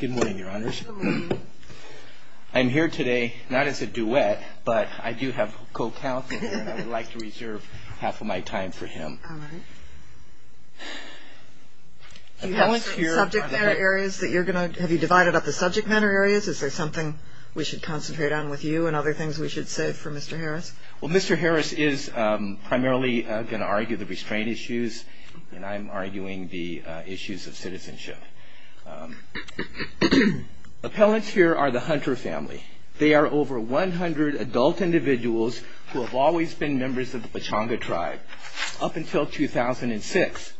Good morning, your honors. I'm here today not as a duet, but I do have co-counselor and I would like to reserve half of my time for him. Do you have some subject matter areas that you're going to, have you divided up the subject matter areas? Is there something we should concentrate on with you and other things we should say for Mr. Harris? Well, Mr. Harris is primarily going to argue the restraint issues and I'm arguing the issues of citizenship. Appellants here are the Hunter family. They are over 100 adult individuals who have always been members of the Pechanga tribe up until 2006.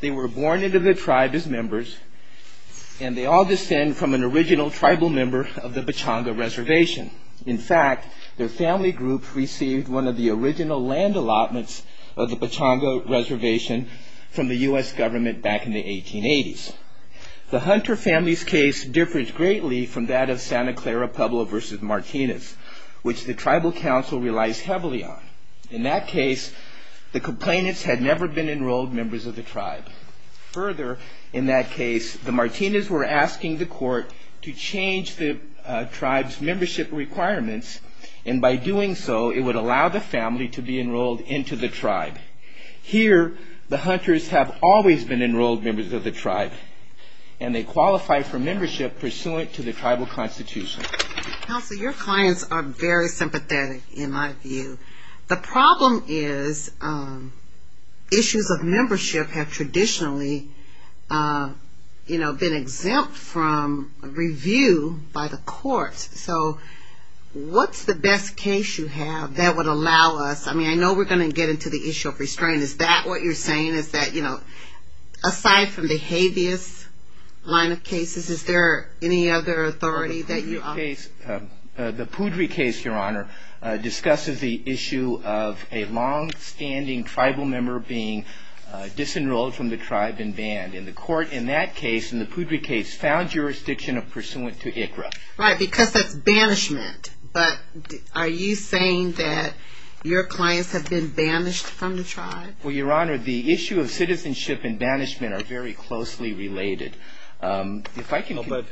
They were born into the tribe as members and they all descend from an original tribal member of the Pechanga reservation. In fact, their family group received one of the original land allotments of the Pechanga reservation from the U.S. government back in the 1880s. The Hunter family's case differs greatly from that of Santa Clara Pueblo v. Martinez, which the tribal council relies heavily on. In that case, the complainants had never been enrolled members of the tribe. Further, in that case, the Martinez were asking the court to change the tribe's membership requirements and by doing so, it would allow the family to be enrolled into the tribe. Here, the Hunters have always been enrolled members of the tribe and they qualify for membership pursuant to the tribal constitution. Counsel, your clients are very sympathetic in my view. The problem is issues of membership have traditionally been exempt from review by the court. So, what's the best case you have that would allow us, I mean I know we're going to get into the issue of restraint, is that what you're saying? Is that, you know, aside from the habeas line of cases, is there any other authority that you offer? The Poudry case, your honor, discusses the issue of a long-standing tribal member being disenrolled from the tribe and banned. And the court in that case, in the Poudry case, found jurisdiction pursuant to ICRA. Right, because that's banishment. But are you saying that your clients have been banished from the tribe? Well, your honor, the issue of citizenship and banishment are very closely related. But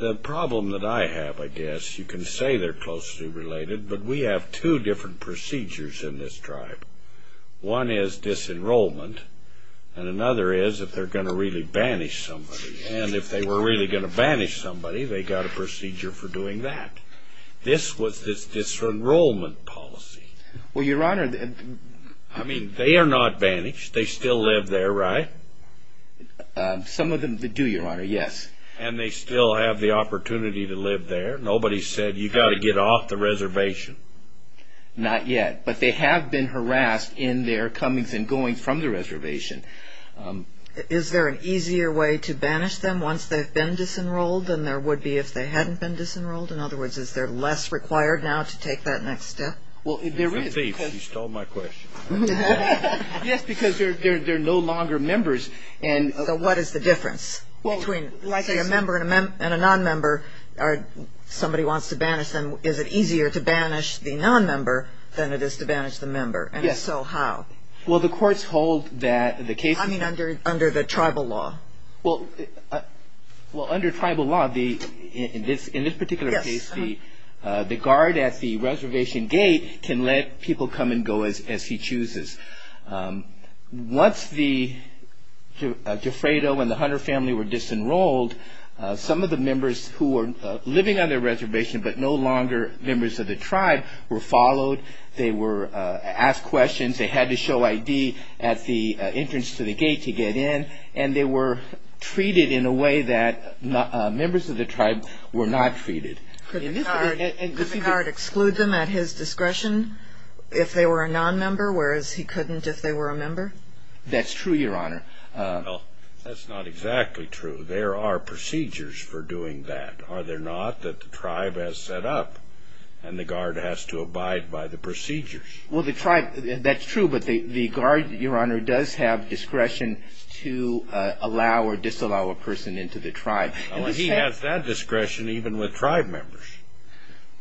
the problem that I have, I guess, you can say they're closely related, but we have two different procedures in this tribe. One is disenrollment and another is if they're going to really banish somebody. And if they were really going to banish somebody, they got a procedure for doing that. This was this disenrollment policy. Well, your honor, I mean, they are not banished. They still live there, right? Some of them do, your honor, yes. And they still have the opportunity to live there. Nobody said you got to get off the reservation. Not yet, but they have been harassed in their comings and goings from the reservation. Is there an easier way to banish them once they've been disenrolled than there would be if they hadn't been disenrolled? In other words, is there less required now to take that next step? Well, there is. You're a thief. You stole my question. Yes, because they're no longer members. So what is the difference between a member and a nonmember? Somebody wants to banish them. Is it easier to banish the nonmember than it is to banish the member? And if so, how? Well, the courts hold that the case... I mean, under the tribal law. Well, under tribal law, in this particular case, the guard at the reservation gate can let people come and go as he chooses. Once the Gifredo and the Hunter family were disenrolled, some of the members who were living on the reservation but no longer members of the tribe were followed. They were asked questions. They had to show ID at the entrance to the gate to get in, and they were treated in a way that members of the tribe were not treated. Could the guard exclude them at his discretion if they were a nonmember, whereas he couldn't if they were a member? That's true, Your Honor. Well, that's not exactly true. There are procedures for doing that, are there not, that the tribe has set up, and the guard has to abide by the procedures? Well, the tribe, that's true, but the guard, Your Honor, does have discretion to allow or disallow a person into the tribe. Well, he has that discretion even with tribe members.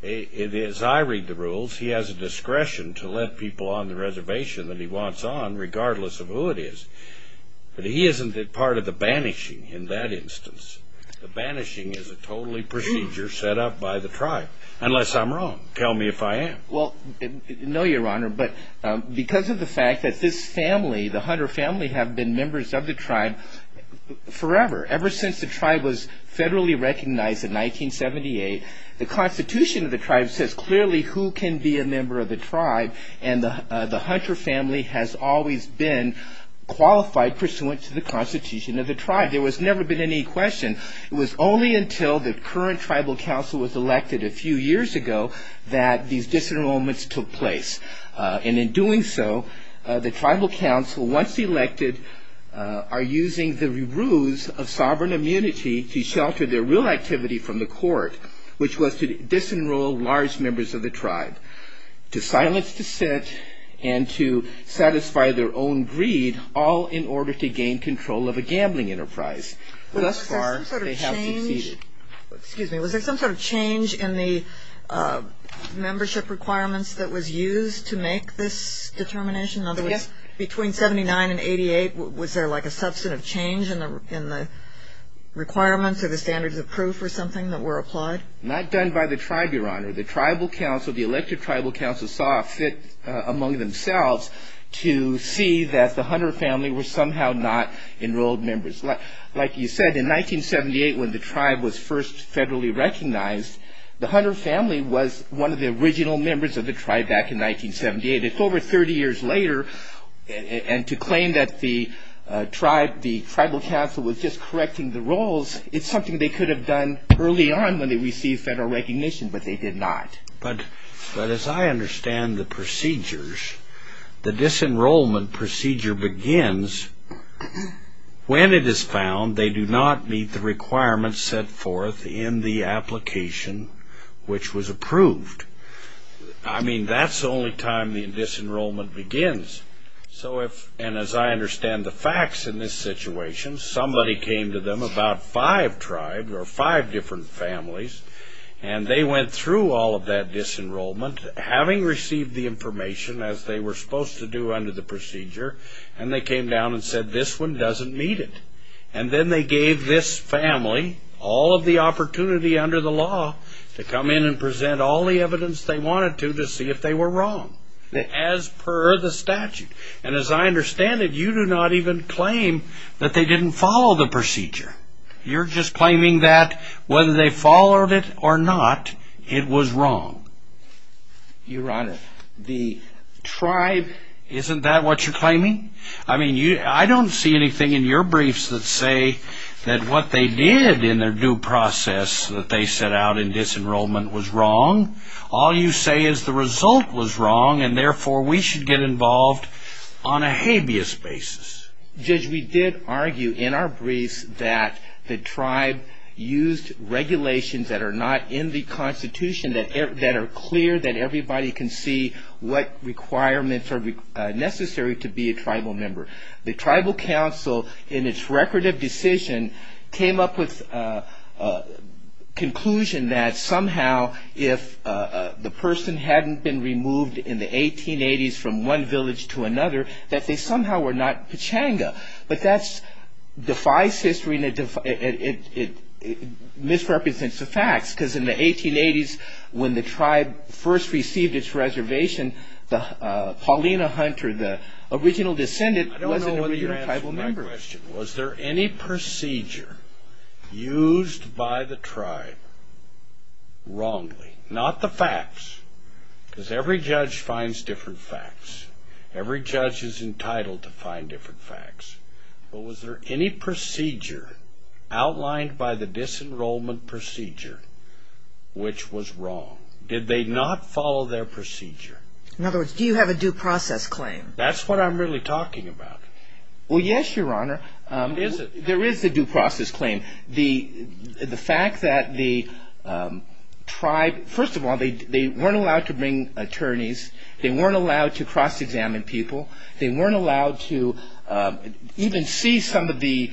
As I read the rules, he has a discretion to let people on the reservation that he wants on regardless of who it is. But he isn't a part of the banishing in that instance. The banishing is a totally procedure set up by the tribe, unless I'm wrong. Tell me if I am. Well, no, Your Honor, but because of the fact that this family, the Hunter family, have been members of the tribe forever, ever since the tribe was federally recognized in 1978, the Constitution of the tribe says clearly who can be a member of the tribe, and the Hunter family has always been qualified pursuant to the Constitution of the tribe. There has never been any question. It was only until the current tribal council was elected a few years ago that these disenrollments took place. And in doing so, the tribal council, once elected, are using the ruse of sovereign immunity to shelter their real activity from the court, which was to disenroll large members of the tribe, to silence dissent, and to satisfy their own greed, all in order to gain control of a gambling enterprise. Thus far, they have succeeded. Excuse me. Was there some sort of change in the membership requirements that was used to make this determination? In other words, between 79 and 88, was there like a substantive change in the requirements or the standards of proof or something that were applied? Not done by the tribe, Your Honor. The tribal council, the elected tribal council, saw a fit among themselves to see that the Hunter family were somehow not enrolled members. Like you said, in 1978, when the tribe was first federally recognized, the Hunter family was one of the original members of the tribe back in 1978. It's over 30 years later, and to claim that the tribal council was just correcting the roles, it's something they could have done early on when they received federal recognition, but they did not. But as I understand the procedures, the disenrollment procedure begins when it is found they do not meet the requirements set forth in the application which was approved. I mean, that's the only time the disenrollment begins. And as I understand the facts in this situation, somebody came to them, about five tribes or five different families, and they went through all of that disenrollment, having received the information, as they were supposed to do under the procedure, and they came down and said, this one doesn't meet it. And then they gave this family all of the opportunity under the law to come in and present all the evidence they wanted to to see if they were wrong as per the statute. And as I understand it, you do not even claim that they didn't follow the procedure. You're just claiming that whether they followed it or not, it was wrong. Your Honor, the tribe... Isn't that what you're claiming? I mean, I don't see anything in your briefs that say that what they did in their due process that they set out in disenrollment was wrong. All you say is the result was wrong, and therefore we should get involved on a habeas basis. Judge, we did argue in our briefs that the tribe used regulations that are not in the Constitution that are clear, that everybody can see what requirements are necessary to be a tribal member. The tribal council, in its record of decision, came up with a conclusion that somehow if the person hadn't been removed in the 1880s from one village to another, that they somehow were not Pechanga. But that defies history, and it misrepresents the facts, because in the 1880s when the tribe first received its reservation, Paulina Hunter, the original descendant, wasn't an original tribal member. I don't know whether you're answering my question. Was there any procedure used by the tribe wrongly? Not the facts, because every judge finds different facts. Every judge is entitled to find different facts. But was there any procedure outlined by the disenrollment procedure which was wrong? Did they not follow their procedure? In other words, do you have a due process claim? That's what I'm really talking about. Well, yes, Your Honor. What is it? There is a due process claim. The fact that the tribe, first of all, they weren't allowed to bring attorneys. They weren't allowed to cross-examine people. They weren't allowed to even see some of the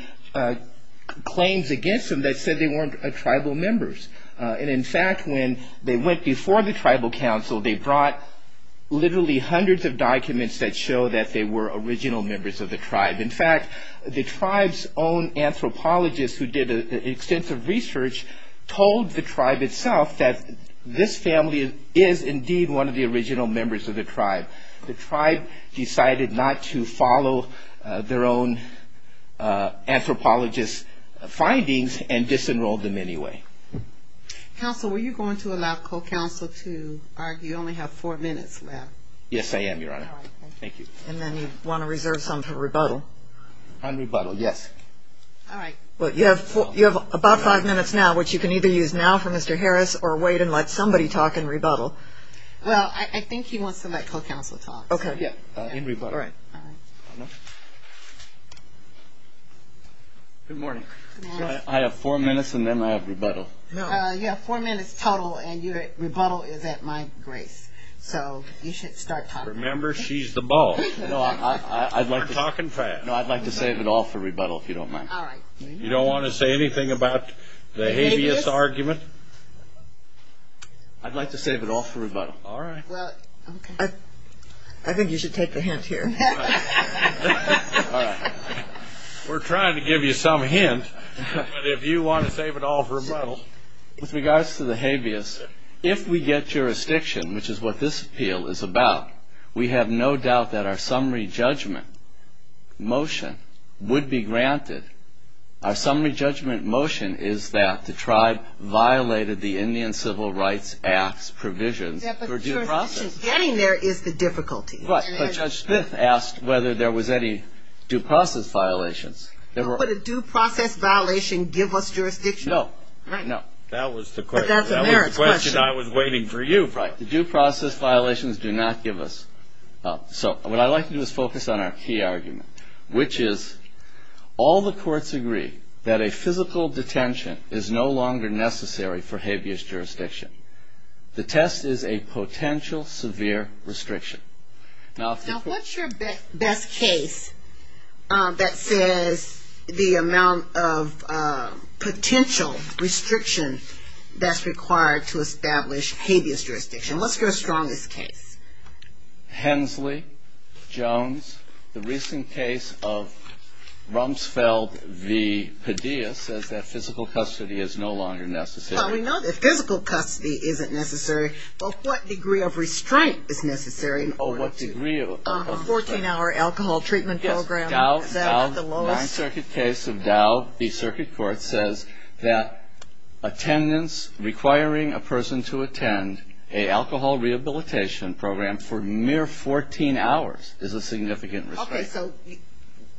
claims against them that said they weren't tribal members. And, in fact, when they went before the tribal council, they brought literally hundreds of documents that show that they were original members of the tribe. In fact, the tribe's own anthropologist, who did extensive research, told the tribe itself that this family is indeed one of the original members of the tribe. The tribe decided not to follow their own anthropologist's findings and disenrolled them anyway. Counsel, were you going to allow co-counsel to argue? You only have four minutes left. Yes, I am, Your Honor. Thank you. And then you want to reserve some for rebuttal? On rebuttal, yes. All right. Well, you have about five minutes now, which you can either use now for Mr. Harris, or wait and let somebody talk in rebuttal. Well, I think he wants to let co-counsel talk. In rebuttal. All right. Good morning. Good morning. I have four minutes, and then I have rebuttal. You have four minutes total, and your rebuttal is at my grace. So you should start talking. Remember, she's the ball. No, I'd like to save it all for rebuttal, if you don't mind. All right. You don't want to say anything about the habeas argument? I'd like to save it all for rebuttal. All right. Well, I think you should take a hint here. All right. We're trying to give you some hint, but if you want to save it all for rebuttal. With regards to the habeas, if we get jurisdiction, which is what this appeal is about, we have no doubt that our summary judgment motion would be granted. Our summary judgment motion is that the tribe violated the Indian Civil Rights Act's provisions for due process. Getting there is the difficulty. But Judge Smith asked whether there was any due process violations. Would a due process violation give us jurisdiction? No. No. That was the question I was waiting for you for. All right. The due process violations do not give us. So what I'd like to do is focus on our key argument, which is all the courts agree that a physical detention is no longer necessary for habeas jurisdiction. The test is a potential severe restriction. Now, what's your best case that says the amount of potential restriction that's required to establish habeas jurisdiction? What's your strongest case? Hensley, Jones. The recent case of Rumsfeld v. Padilla says that physical custody is no longer necessary. Well, we know that physical custody isn't necessary, but what degree of restraint is necessary? Oh, what degree of? A 14-hour alcohol treatment program. Yes. Is that the lowest? Nine Circuit case of Dow v. Circuit Court says that attendance requiring a person to attend a alcohol rehabilitation program for mere 14 hours is a significant restraint. Okay. So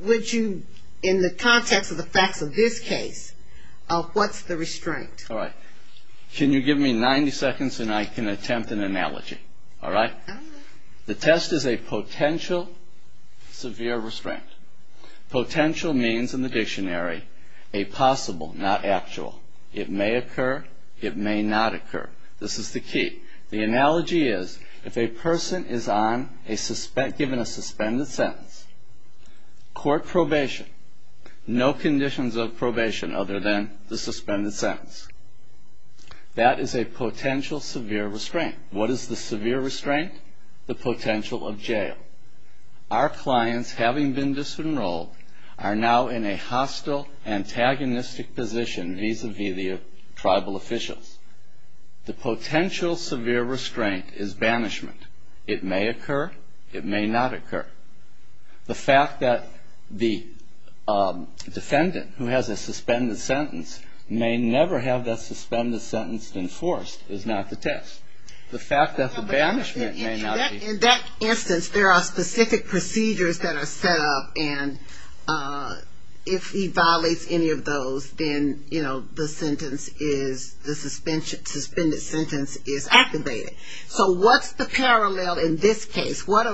would you, in the context of the facts of this case, what's the restraint? All right. Can you give me 90 seconds and I can attempt an analogy? All right. The test is a potential severe restraint. Potential means, in the dictionary, a possible, not actual. It may occur. It may not occur. This is the key. The analogy is, if a person is given a suspended sentence, court probation, no conditions of probation other than the suspended sentence, that is a potential severe restraint. What is the severe restraint? The potential of jail. Our clients, having been disenrolled, are now in a hostile, antagonistic position vis-à-vis the tribal officials. The potential severe restraint is banishment. It may occur. It may not occur. The fact that the defendant, who has a suspended sentence, may never have that suspended sentence enforced is not the test. The fact that the banishment may not be. In that instance, there are specific procedures that are set up, and if he violates any of those, then, you know, the sentence is, the suspended sentence is activated. So what's the parallel in this case? What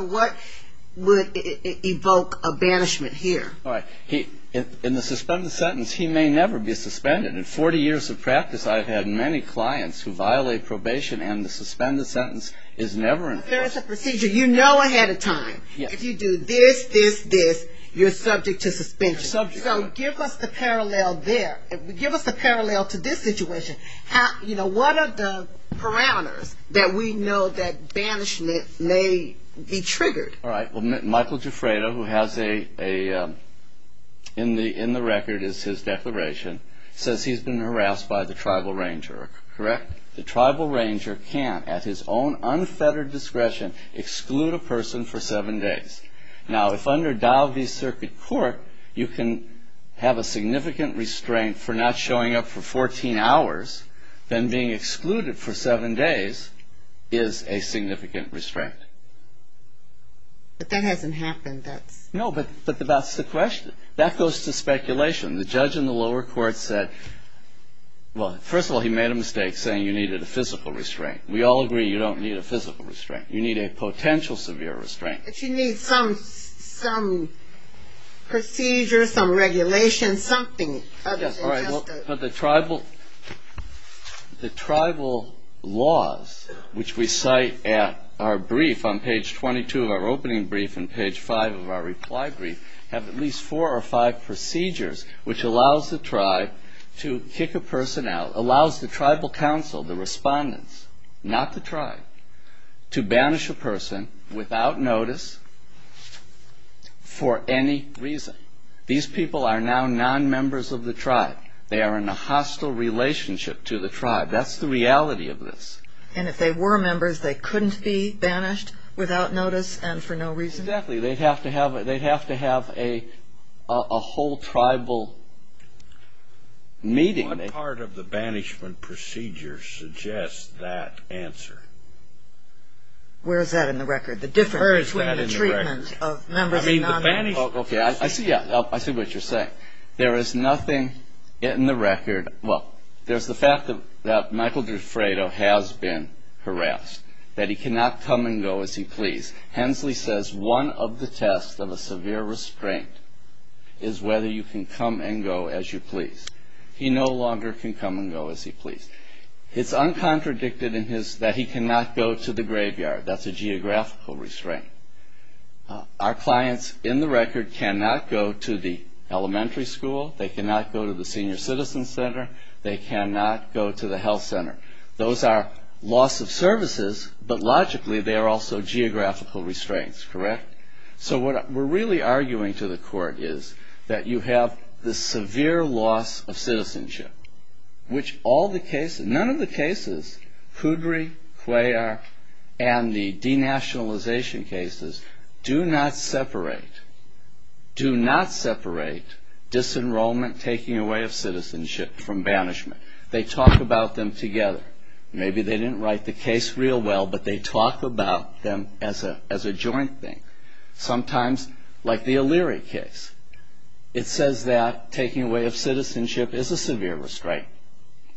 would evoke a banishment here? All right. In the suspended sentence, he may never be suspended. In 40 years of practice, I've had many clients who violate probation, and the suspended sentence is never enforced. There is a procedure you know ahead of time. If you do this, this, this, you're subject to suspension. You're subject. So give us the parallel there. Give us the parallel to this situation. You know, what are the parameters that we know that banishment may be triggered? All right. Well, Michael Giuffreda, who has a, in the record is his declaration, says he's been harassed by the tribal ranger. Correct? The tribal ranger can, at his own unfettered discretion, exclude a person for seven days. Now, if under Dow v. Circuit Court, you can have a significant restraint for not showing up for 14 hours, then being excluded for seven days is a significant restraint. But that hasn't happened. No, but that's the question. That goes to speculation. The judge in the lower court said, well, first of all, he made a mistake saying you needed a physical restraint. We all agree you don't need a physical restraint. You need a potential severe restraint. But you need some procedure, some regulation, something. Yes, all right. But the tribal laws, which we cite at our brief on page 22 of our opening brief and page 5 of our reply brief, have at least four or five procedures which allows the tribe to kick a person out, allows the tribal council, the respondents, not the tribe, to banish a person without notice for any reason. These people are now non-members of the tribe. They are in a hostile relationship to the tribe. That's the reality of this. And if they were members, they couldn't be banished without notice and for no reason? Exactly. They'd have to have a whole tribal meeting. What part of the banishment procedure suggests that answer? Where is that in the record? The difference between the treatment of members and non-members? Okay, I see what you're saying. There is nothing in the record. Well, there's the fact that Michael D'Effredo has been harassed, that he cannot come and go as he please. Hensley says one of the tests of a severe restraint is whether you can come and go as you please. He no longer can come and go as he please. It's uncontradicted that he cannot go to the graveyard. That's a geographical restraint. Our clients in the record cannot go to the elementary school. They cannot go to the senior citizen center. They cannot go to the health center. Those are loss of services, but logically they are also geographical restraints, correct? So what we're really arguing to the court is that you have the severe loss of citizenship, which none of the cases, Kudry, Cuellar, and the denationalization cases, do not separate. Do not separate disenrollment, taking away of citizenship from banishment. They talk about them together. Maybe they didn't write the case real well, but they talk about them as a joint thing, sometimes like the O'Leary case. It says that taking away of citizenship is a severe restraint.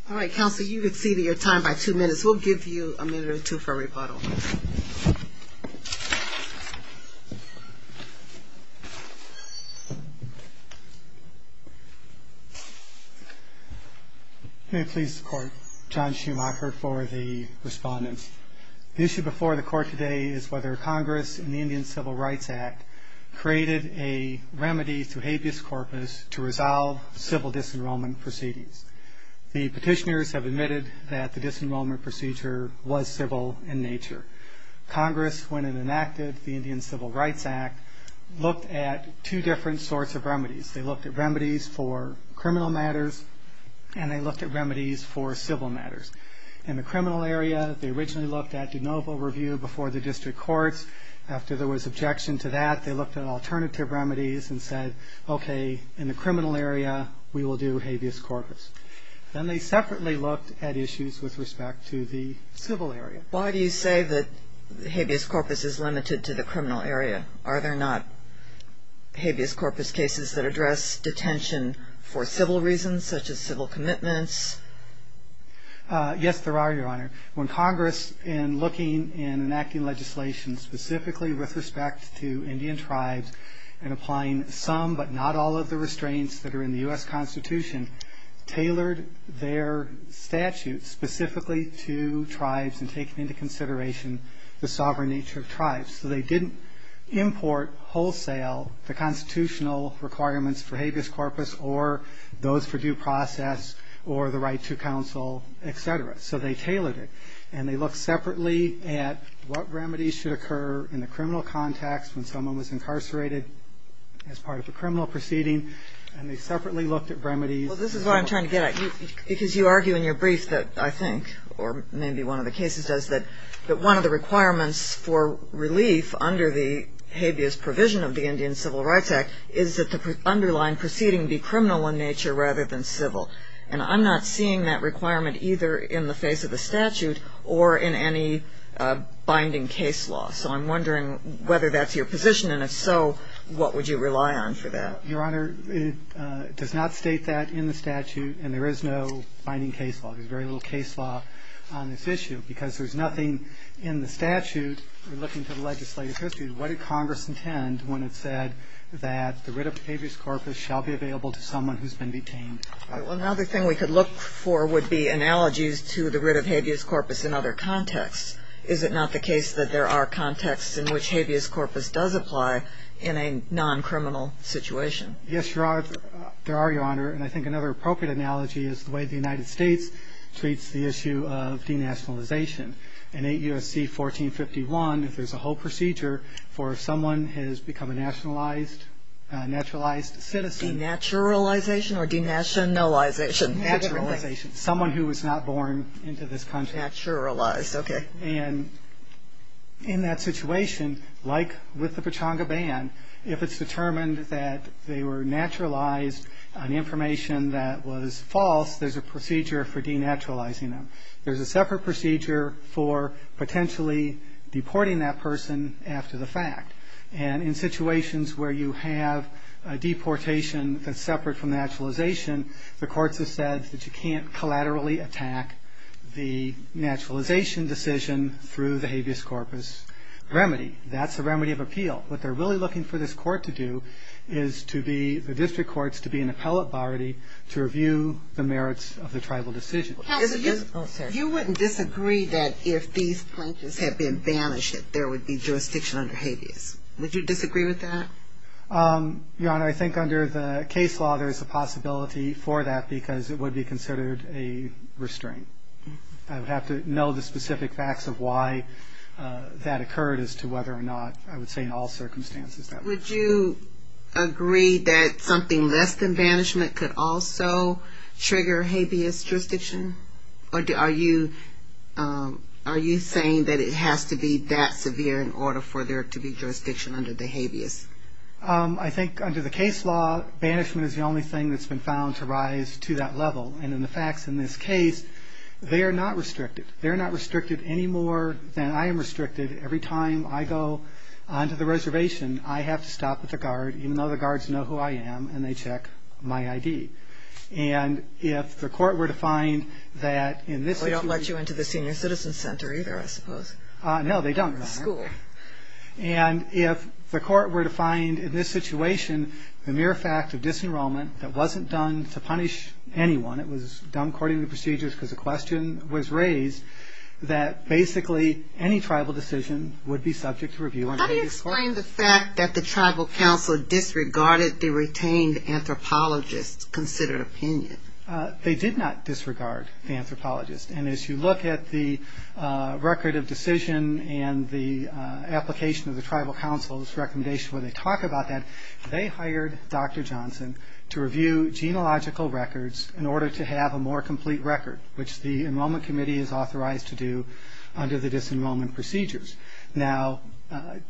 All right, counsel, you've exceeded your time by two minutes. We'll give you a minute or two for rebuttal. May it please the court. John Schumacher for the respondent. The issue before the court today is whether Congress in the Indian Civil Rights Act created a remedy through habeas corpus to resolve civil disenrollment proceedings. The petitioners have admitted that the disenrollment procedure was civil in nature. Congress, when it enacted the Indian Civil Rights Act, looked at two different sorts of remedies. They looked at remedies for criminal matters, and they looked at remedies for civil matters. In the criminal area, they originally looked at de novo review before the district courts. After there was objection to that, they looked at alternative remedies and said, okay, in the criminal area, we will do habeas corpus. Then they separately looked at issues with respect to the civil area. Why do you say that habeas corpus is limited to the criminal area? Are there not habeas corpus cases that address detention for civil reasons, such as civil commitments? Yes, there are, Your Honor. When Congress, in looking and enacting legislation specifically with respect to Indian tribes and applying some but not all of the restraints that are in the U.S. Constitution, tailored their statutes specifically to tribes and taking into consideration the sovereign nature of tribes. So they didn't import wholesale the constitutional requirements for habeas corpus or those for due process or the right to counsel, et cetera. So they tailored it, and they looked separately at what remedies should occur in the criminal context when someone was incarcerated as part of a criminal proceeding, and they separately looked at remedies. Well, this is what I'm trying to get at. Because you argue in your brief that I think, or maybe one of the cases does, that one of the requirements for relief under the habeas provision of the Indian Civil Rights Act is that the underlying proceeding be criminal in nature rather than civil. And I'm not seeing that requirement either in the face of the statute or in any binding case law. So I'm wondering whether that's your position, and if so, what would you rely on for that? Your Honor, it does not state that in the statute, and there is no binding case law. There's very little case law on this issue. Because there's nothing in the statute, looking to the legislative history, what did Congress intend when it said that the writ of habeas corpus shall be available to someone who's been detained? Well, another thing we could look for would be analogies to the writ of habeas corpus in other contexts. Is it not the case that there are contexts in which habeas corpus does apply in a non-criminal situation? Yes, Your Honor. There are, Your Honor. And I think another appropriate analogy is the way the United States treats the issue of denationalization. In 8 U.S.C. 1451, there's a whole procedure for if someone has become a nationalized, naturalized citizen. Denaturalization or denationalization? Denaturalization. Someone who was not born into this country. Denaturalized. Okay. And in that situation, like with the Pechanga Ban, if it's determined that they were naturalized on information that was false, there's a procedure for denaturalizing them. There's a separate procedure for potentially deporting that person after the fact. And in situations where you have a deportation that's separate from naturalization, the courts have said that you can't collaterally attack the naturalization decision through the habeas corpus remedy. That's a remedy of appeal. What they're really looking for this court to do is to be, the district courts, to be an appellate body to review the merits of the tribal decision. Counsel, you wouldn't disagree that if these plaintiffs had been banished that there would be jurisdiction under habeas. Would you disagree with that? Your Honor, I think under the case law there is a possibility for that because it would be considered a restraint. I would have to know the specific facts of why that occurred as to whether or not, I would say, in all circumstances. Would you agree that something less than banishment could also trigger habeas jurisdiction? Are you saying that it has to be that severe in order for there to be jurisdiction under the habeas? I think under the case law, banishment is the only thing that's been found to rise to that level. And in the facts in this case, they are not restricted. They're not restricted any more than I am restricted. Every time I go onto the reservation, I have to stop at the guard, even though the guards know who I am, and they check my ID. And if the court were to find that in this situation... They don't let you into the Senior Citizen Center either, I suppose. No, they don't, Your Honor. Or the school. And if the court were to find in this situation the mere fact of disenrollment that wasn't done to punish anyone, it was done according to procedures because the question was raised, How do you explain the fact that the Tribal Council disregarded the retained anthropologists' considered opinion? They did not disregard the anthropologists. And as you look at the record of decision and the application of the Tribal Council's recommendation where they talk about that, they hired Dr. Johnson to review genealogical records in order to have a more complete record, which the Enrollment Committee is authorized to do under the disenrollment procedures. Now, Dr. Johnson...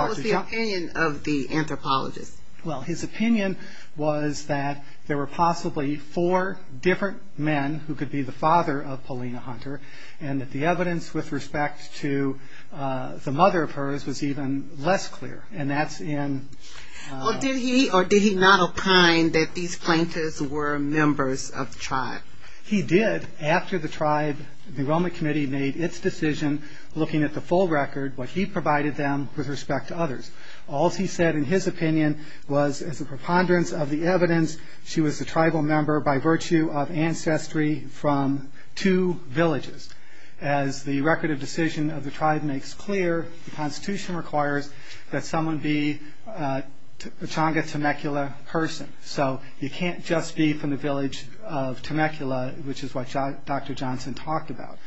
What was the opinion of the anthropologists? Well, his opinion was that there were possibly four different men who could be the father of Paulina Hunter, and that the evidence with respect to the mother of hers was even less clear. And that's in... Or did he not opine that these plaintiffs were members of the tribe? He did, after the tribe, the Enrollment Committee made its decision looking at the full record, what he provided them with respect to others. All he said in his opinion was, as a preponderance of the evidence, she was a tribal member by virtue of ancestry from two villages. As the record of decision of the tribe makes clear, the Constitution requires that someone be a Tonga Temecula person. So you can't just be from the village of Temecula, which is what Dr. Johnson talked about.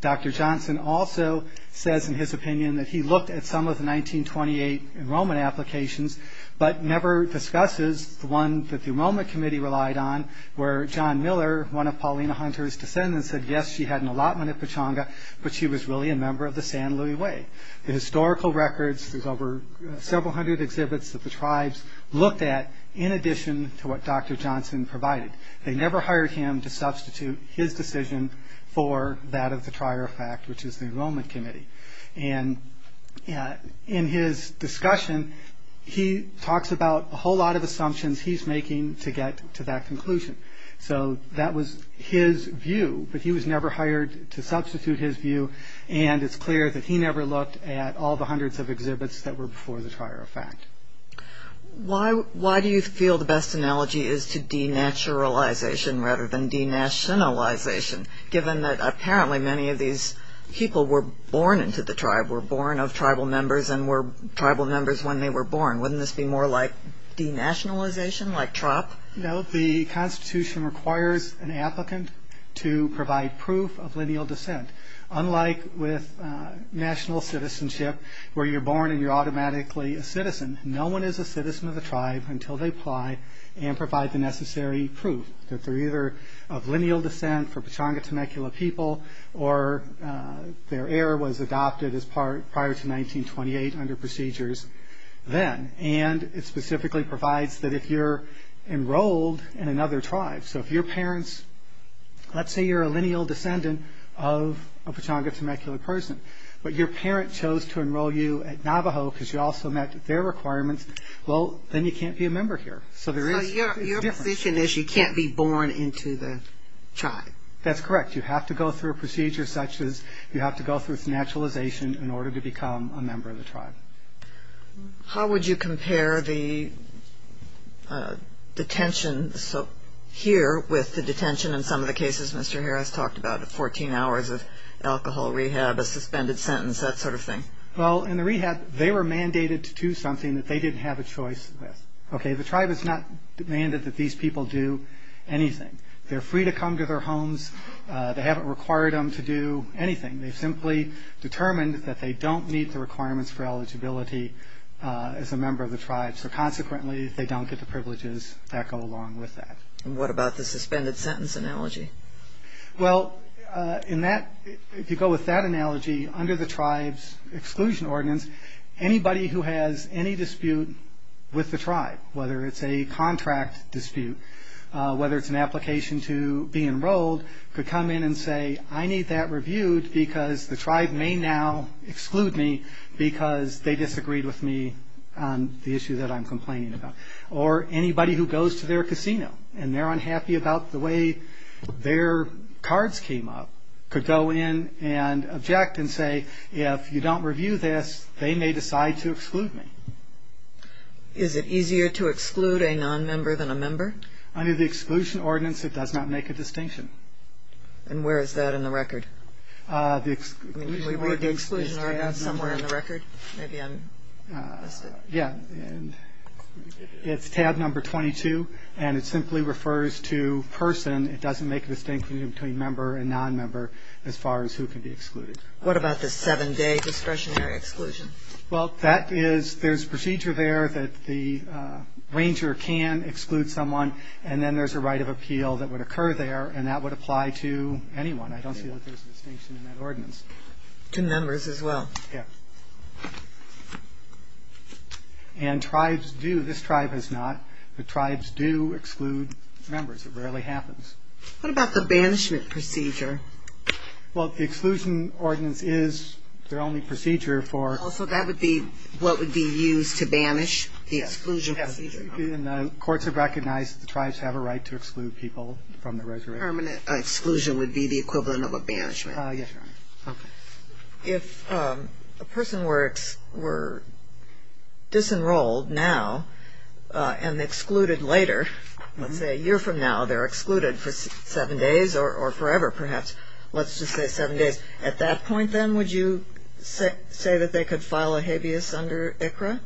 Dr. Johnson also says in his opinion that he looked at some of the 1928 enrollment applications, but never discusses the one that the Enrollment Committee relied on, where John Miller, one of Paulina Hunter's descendants, said, yes, she had an allotment at Pechanga, but she was really a member of the San Luis Way. The historical records, there's over several hundred exhibits that the tribes looked at, in addition to what Dr. Johnson provided. They never hired him to substitute his decision for that of the trier of fact, which is the Enrollment Committee. And in his discussion, he talks about a whole lot of assumptions he's making to get to that conclusion. So that was his view, but he was never hired to substitute his view, and it's clear that he never looked at all the hundreds of exhibits that were before the trier of fact. Why do you feel the best analogy is to denaturalization rather than denationalization, given that apparently many of these people were born into the tribe, were born of tribal members and were tribal members when they were born? Wouldn't this be more like denationalization, like TROP? No, the Constitution requires an applicant to provide proof of lineal descent. Unlike with national citizenship, where you're born and you're automatically a citizen, no one is a citizen of the tribe until they apply and provide the necessary proof that they're either of lineal descent for Pechanga Temecula people, or their heir was adopted prior to 1928 under procedures then. And it specifically provides that if you're enrolled in another tribe, so if your parents, let's say you're a lineal descendant of a Pechanga Temecula person, but your parent chose to enroll you at Navajo because you also met their requirements, well, then you can't be a member here. So there is a difference. So your position is you can't be born into the tribe? That's correct. You have to go through a procedure such as you have to go through denationalization in order to become a member of the tribe. How would you compare the detention here with the detention in some of the cases Mr. Harris talked about, 14 hours of alcohol rehab, a suspended sentence, that sort of thing? Well, in the rehab, they were mandated to do something that they didn't have a choice with. Okay, the tribe has not demanded that these people do anything. They're free to come to their homes. They haven't required them to do anything. They've simply determined that they don't need the requirements for eligibility as a member of the tribe, so consequently they don't get the privileges that go along with that. And what about the suspended sentence analogy? Well, in that, if you go with that analogy, under the tribe's exclusion ordinance, anybody who has any dispute with the tribe, whether it's a contract dispute, whether it's an application to be enrolled, could come in and say, I need that reviewed because the tribe may now exclude me because they disagreed with me on the issue that I'm complaining about. Or anybody who goes to their casino and they're unhappy about the way their cards came up could go in and object and say, if you don't review this, they may decide to exclude me. Is it easier to exclude a nonmember than a member? Under the exclusion ordinance, it does not make a distinction. And where is that in the record? Can we read the exclusion ordinance somewhere in the record? Maybe I missed it. Yeah, it's tab number 22, and it simply refers to person. It doesn't make a distinction between member and nonmember as far as who can be excluded. What about the seven-day discretionary exclusion? Well, that is, there's procedure there that the ranger can exclude someone, and then there's a right of appeal that would occur there, and that would apply to anyone. I don't see that there's a distinction in that ordinance. To members as well. Yeah. And tribes do, this tribe does not, but tribes do exclude members. It rarely happens. What about the banishment procedure? Well, the exclusion ordinance is their only procedure for. So that would be what would be used to banish the exclusion procedure. Yes, and the courts have recognized that the tribes have a right to exclude people from the reservation. A permanent exclusion would be the equivalent of a banishment. Yes, Your Honor. Okay. If a person were disenrolled now and excluded later, let's say a year from now, they're excluded for seven days or forever perhaps. Let's just say seven days. At that point, then, would you say that they could file a habeas under ICRA?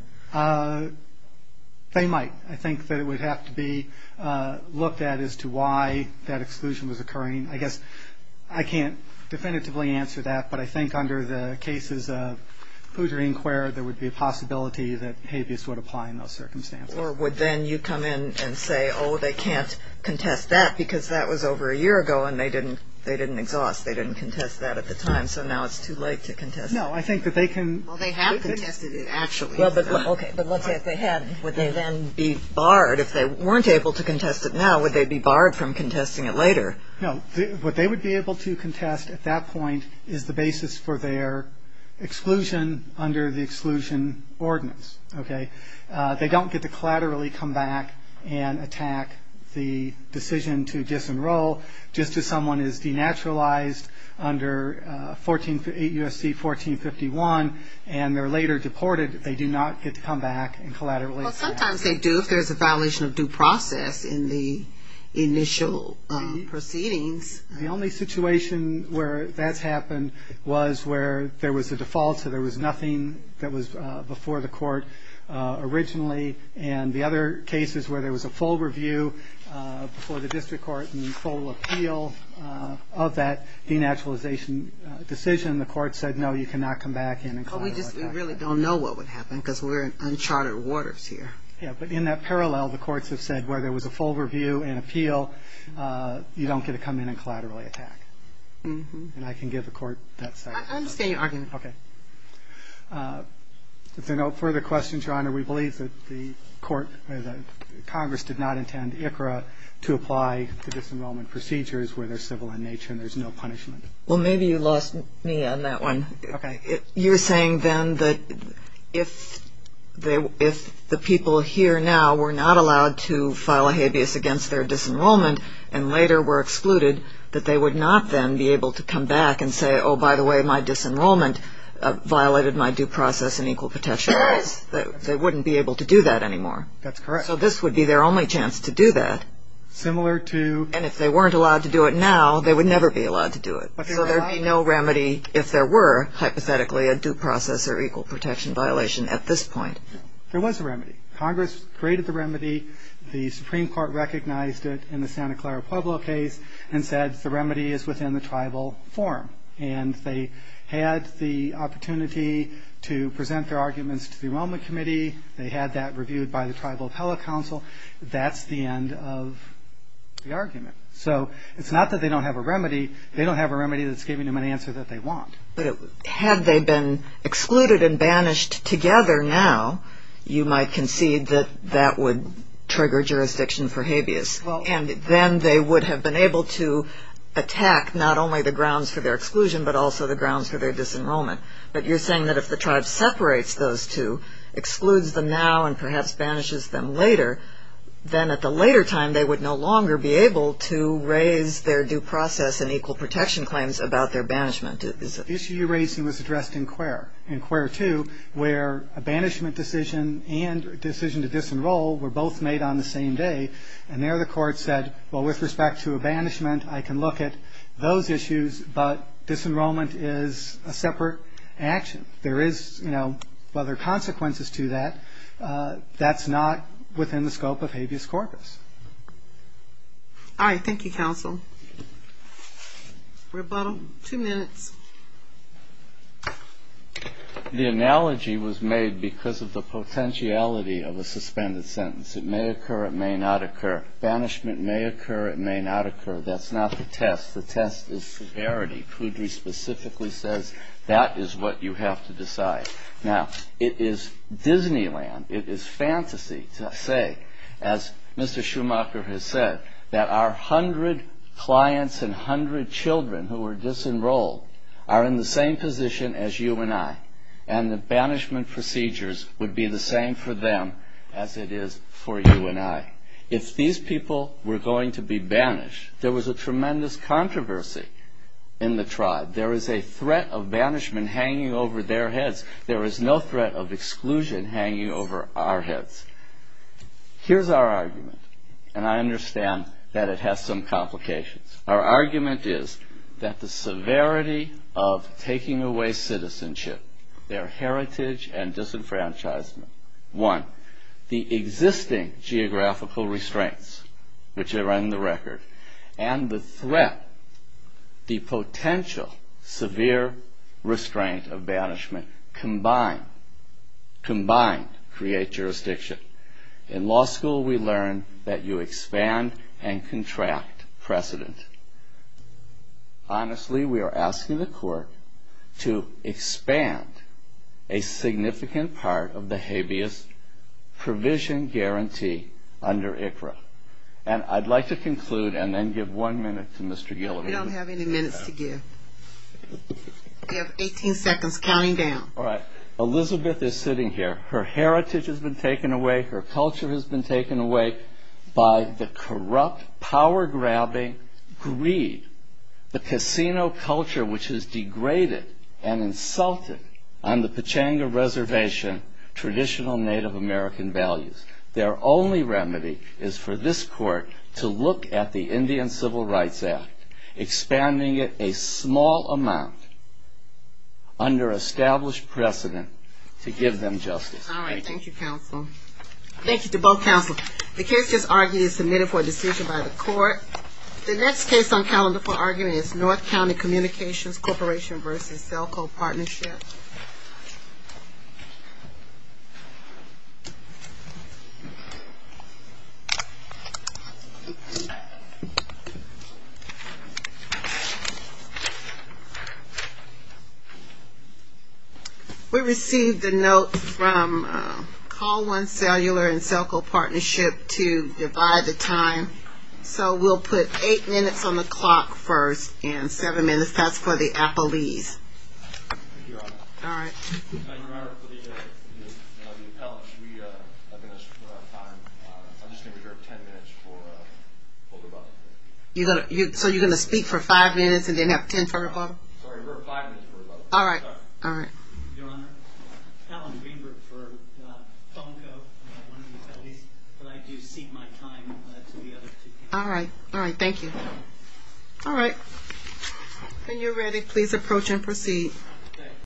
They might. I think that it would have to be looked at as to why that exclusion was occurring. I guess I can't definitively answer that, but I think under the cases of Hoosier Inquirer, there would be a possibility that habeas would apply in those circumstances. Or would then you come in and say, oh, they can't contest that because that was over a year ago and they didn't exhaust, they didn't contest that at the time, so now it's too late to contest it? No, I think that they can. Well, they have contested it actually. Okay, but let's say if they had, would they then be barred? If they weren't able to contest it now, would they be barred from contesting it later? No, what they would be able to contest at that point is the basis for their exclusion under the exclusion ordinance. Okay? They don't get to collaterally come back and attack the decision to disenroll. Just as someone is denaturalized under 8 U.S.C. 1451 and they're later deported, they do not get to come back and collaterally attack. Well, sometimes they do if there's a violation of due process in the initial proceedings. The only situation where that's happened was where there was a default, so there was nothing that was before the court originally, and the other cases where there was a full review before the district court and full appeal of that denaturalization decision, the court said, no, you cannot come back in and collaterally attack. But we just really don't know what would happen because we're in uncharted waters here. Yeah, but in that parallel, the courts have said where there was a full review and appeal, you don't get to come in and collaterally attack. And I can give the court that side. I understand your argument. Okay. If there are no further questions, Your Honor, we believe that the Congress did not intend ICRA to apply the disenrollment procedures where they're civil in nature and there's no punishment. Well, maybe you lost me on that one. Okay. You're saying then that if the people here now were not allowed to file a habeas against their disenrollment and later were excluded, that they would not then be able to come back and say, oh, by the way, my disenrollment violated my due process and equal protection rights. They wouldn't be able to do that anymore. That's correct. So this would be their only chance to do that. Similar to? And if they weren't allowed to do it now, they would never be allowed to do it. So there would be no remedy if there were, hypothetically, a due process or equal protection violation at this point. There was a remedy. Congress created the remedy. The Supreme Court recognized it in the Santa Clara Pueblo case and said the remedy is within the tribal forum. And they had the opportunity to present their arguments to the Enrollment Committee. They had that reviewed by the Tribal Appellate Council. That's the end of the argument. So it's not that they don't have a remedy. They don't have a remedy that's giving them an answer that they want. But had they been excluded and banished together now, you might concede that that would trigger jurisdiction for habeas. And then they would have been able to attack not only the grounds for their exclusion but also the grounds for their disenrollment. But you're saying that if the tribe separates those two, excludes them now and perhaps banishes them later, then at the later time they would no longer be able to raise their due process and equal protection claims about their banishment. The issue you're raising was addressed in Quare, in Quare 2, where a banishment decision and a decision to disenroll were both made on the same day. And there the court said, well, with respect to a banishment, I can look at those issues, but disenrollment is a separate action. There is, you know, well, there are consequences to that. That's not within the scope of habeas corpus. All right. Thank you, counsel. Rebuttal. Two minutes. The analogy was made because of the potentiality of a suspended sentence. It may occur, it may not occur. Banishment may occur, it may not occur. That's not the test. The test is severity. Poudry specifically says that is what you have to decide. Now, it is Disneyland, it is fantasy to say, as Mr. Schumacher has said, that our hundred clients and hundred children who were disenrolled are in the same position as you and I, and the banishment procedures would be the same for them as it is for you and I. If these people were going to be banished, there was a tremendous controversy in the tribe. There is a threat of banishment hanging over their heads. There is no threat of exclusion hanging over our heads. Here's our argument, and I understand that it has some complications. Our argument is that the severity of taking away citizenship, their heritage and disenfranchisement, one, the existing geographical restraints, which are on the record, and the threat, the potential severe restraint of banishment combined create jurisdiction. In law school, we learn that you expand and contract precedent. Honestly, we are asking the court to expand a significant part of the habeas provision guarantee under ICRA. And I'd like to conclude and then give one minute to Mr. Gilliam. We don't have any minutes to give. We have 18 seconds, counting down. All right. Elizabeth is sitting here. Her heritage has been taken away. Her culture has been taken away by the corrupt, power-grabbing greed, the casino culture, which has degraded and insulted on the Pechanga Reservation traditional Native American values. Their only remedy is for this court to look at the Indian Civil Rights Act, expanding it a small amount under established precedent to give them justice. All right. Thank you, counsel. Thank you to both counsel. The case just argued is submitted for a decision by the court. The next case on calendar for arguing is North County Communications Corporation v. Celco Partnership. We received a note from Call One Cellular and Celco Partnership to divide the time, so we'll put eight minutes on the clock first, and seven minutes, that's for the appellees. Your Honor. All right. Your Honor, for the appellants, we have minutes for our time. I'm just going to reserve 10 minutes for older brother. So you're going to speak for five minutes and then have 10 for older brother? Sorry, reserve five minutes for older brother. All right. All right. Your Honor, Alan Greenberg for Celco, one of the appellees, but I do cede my time to the other two. All right. All right. Thank you. All right. When you're ready, please approach and proceed.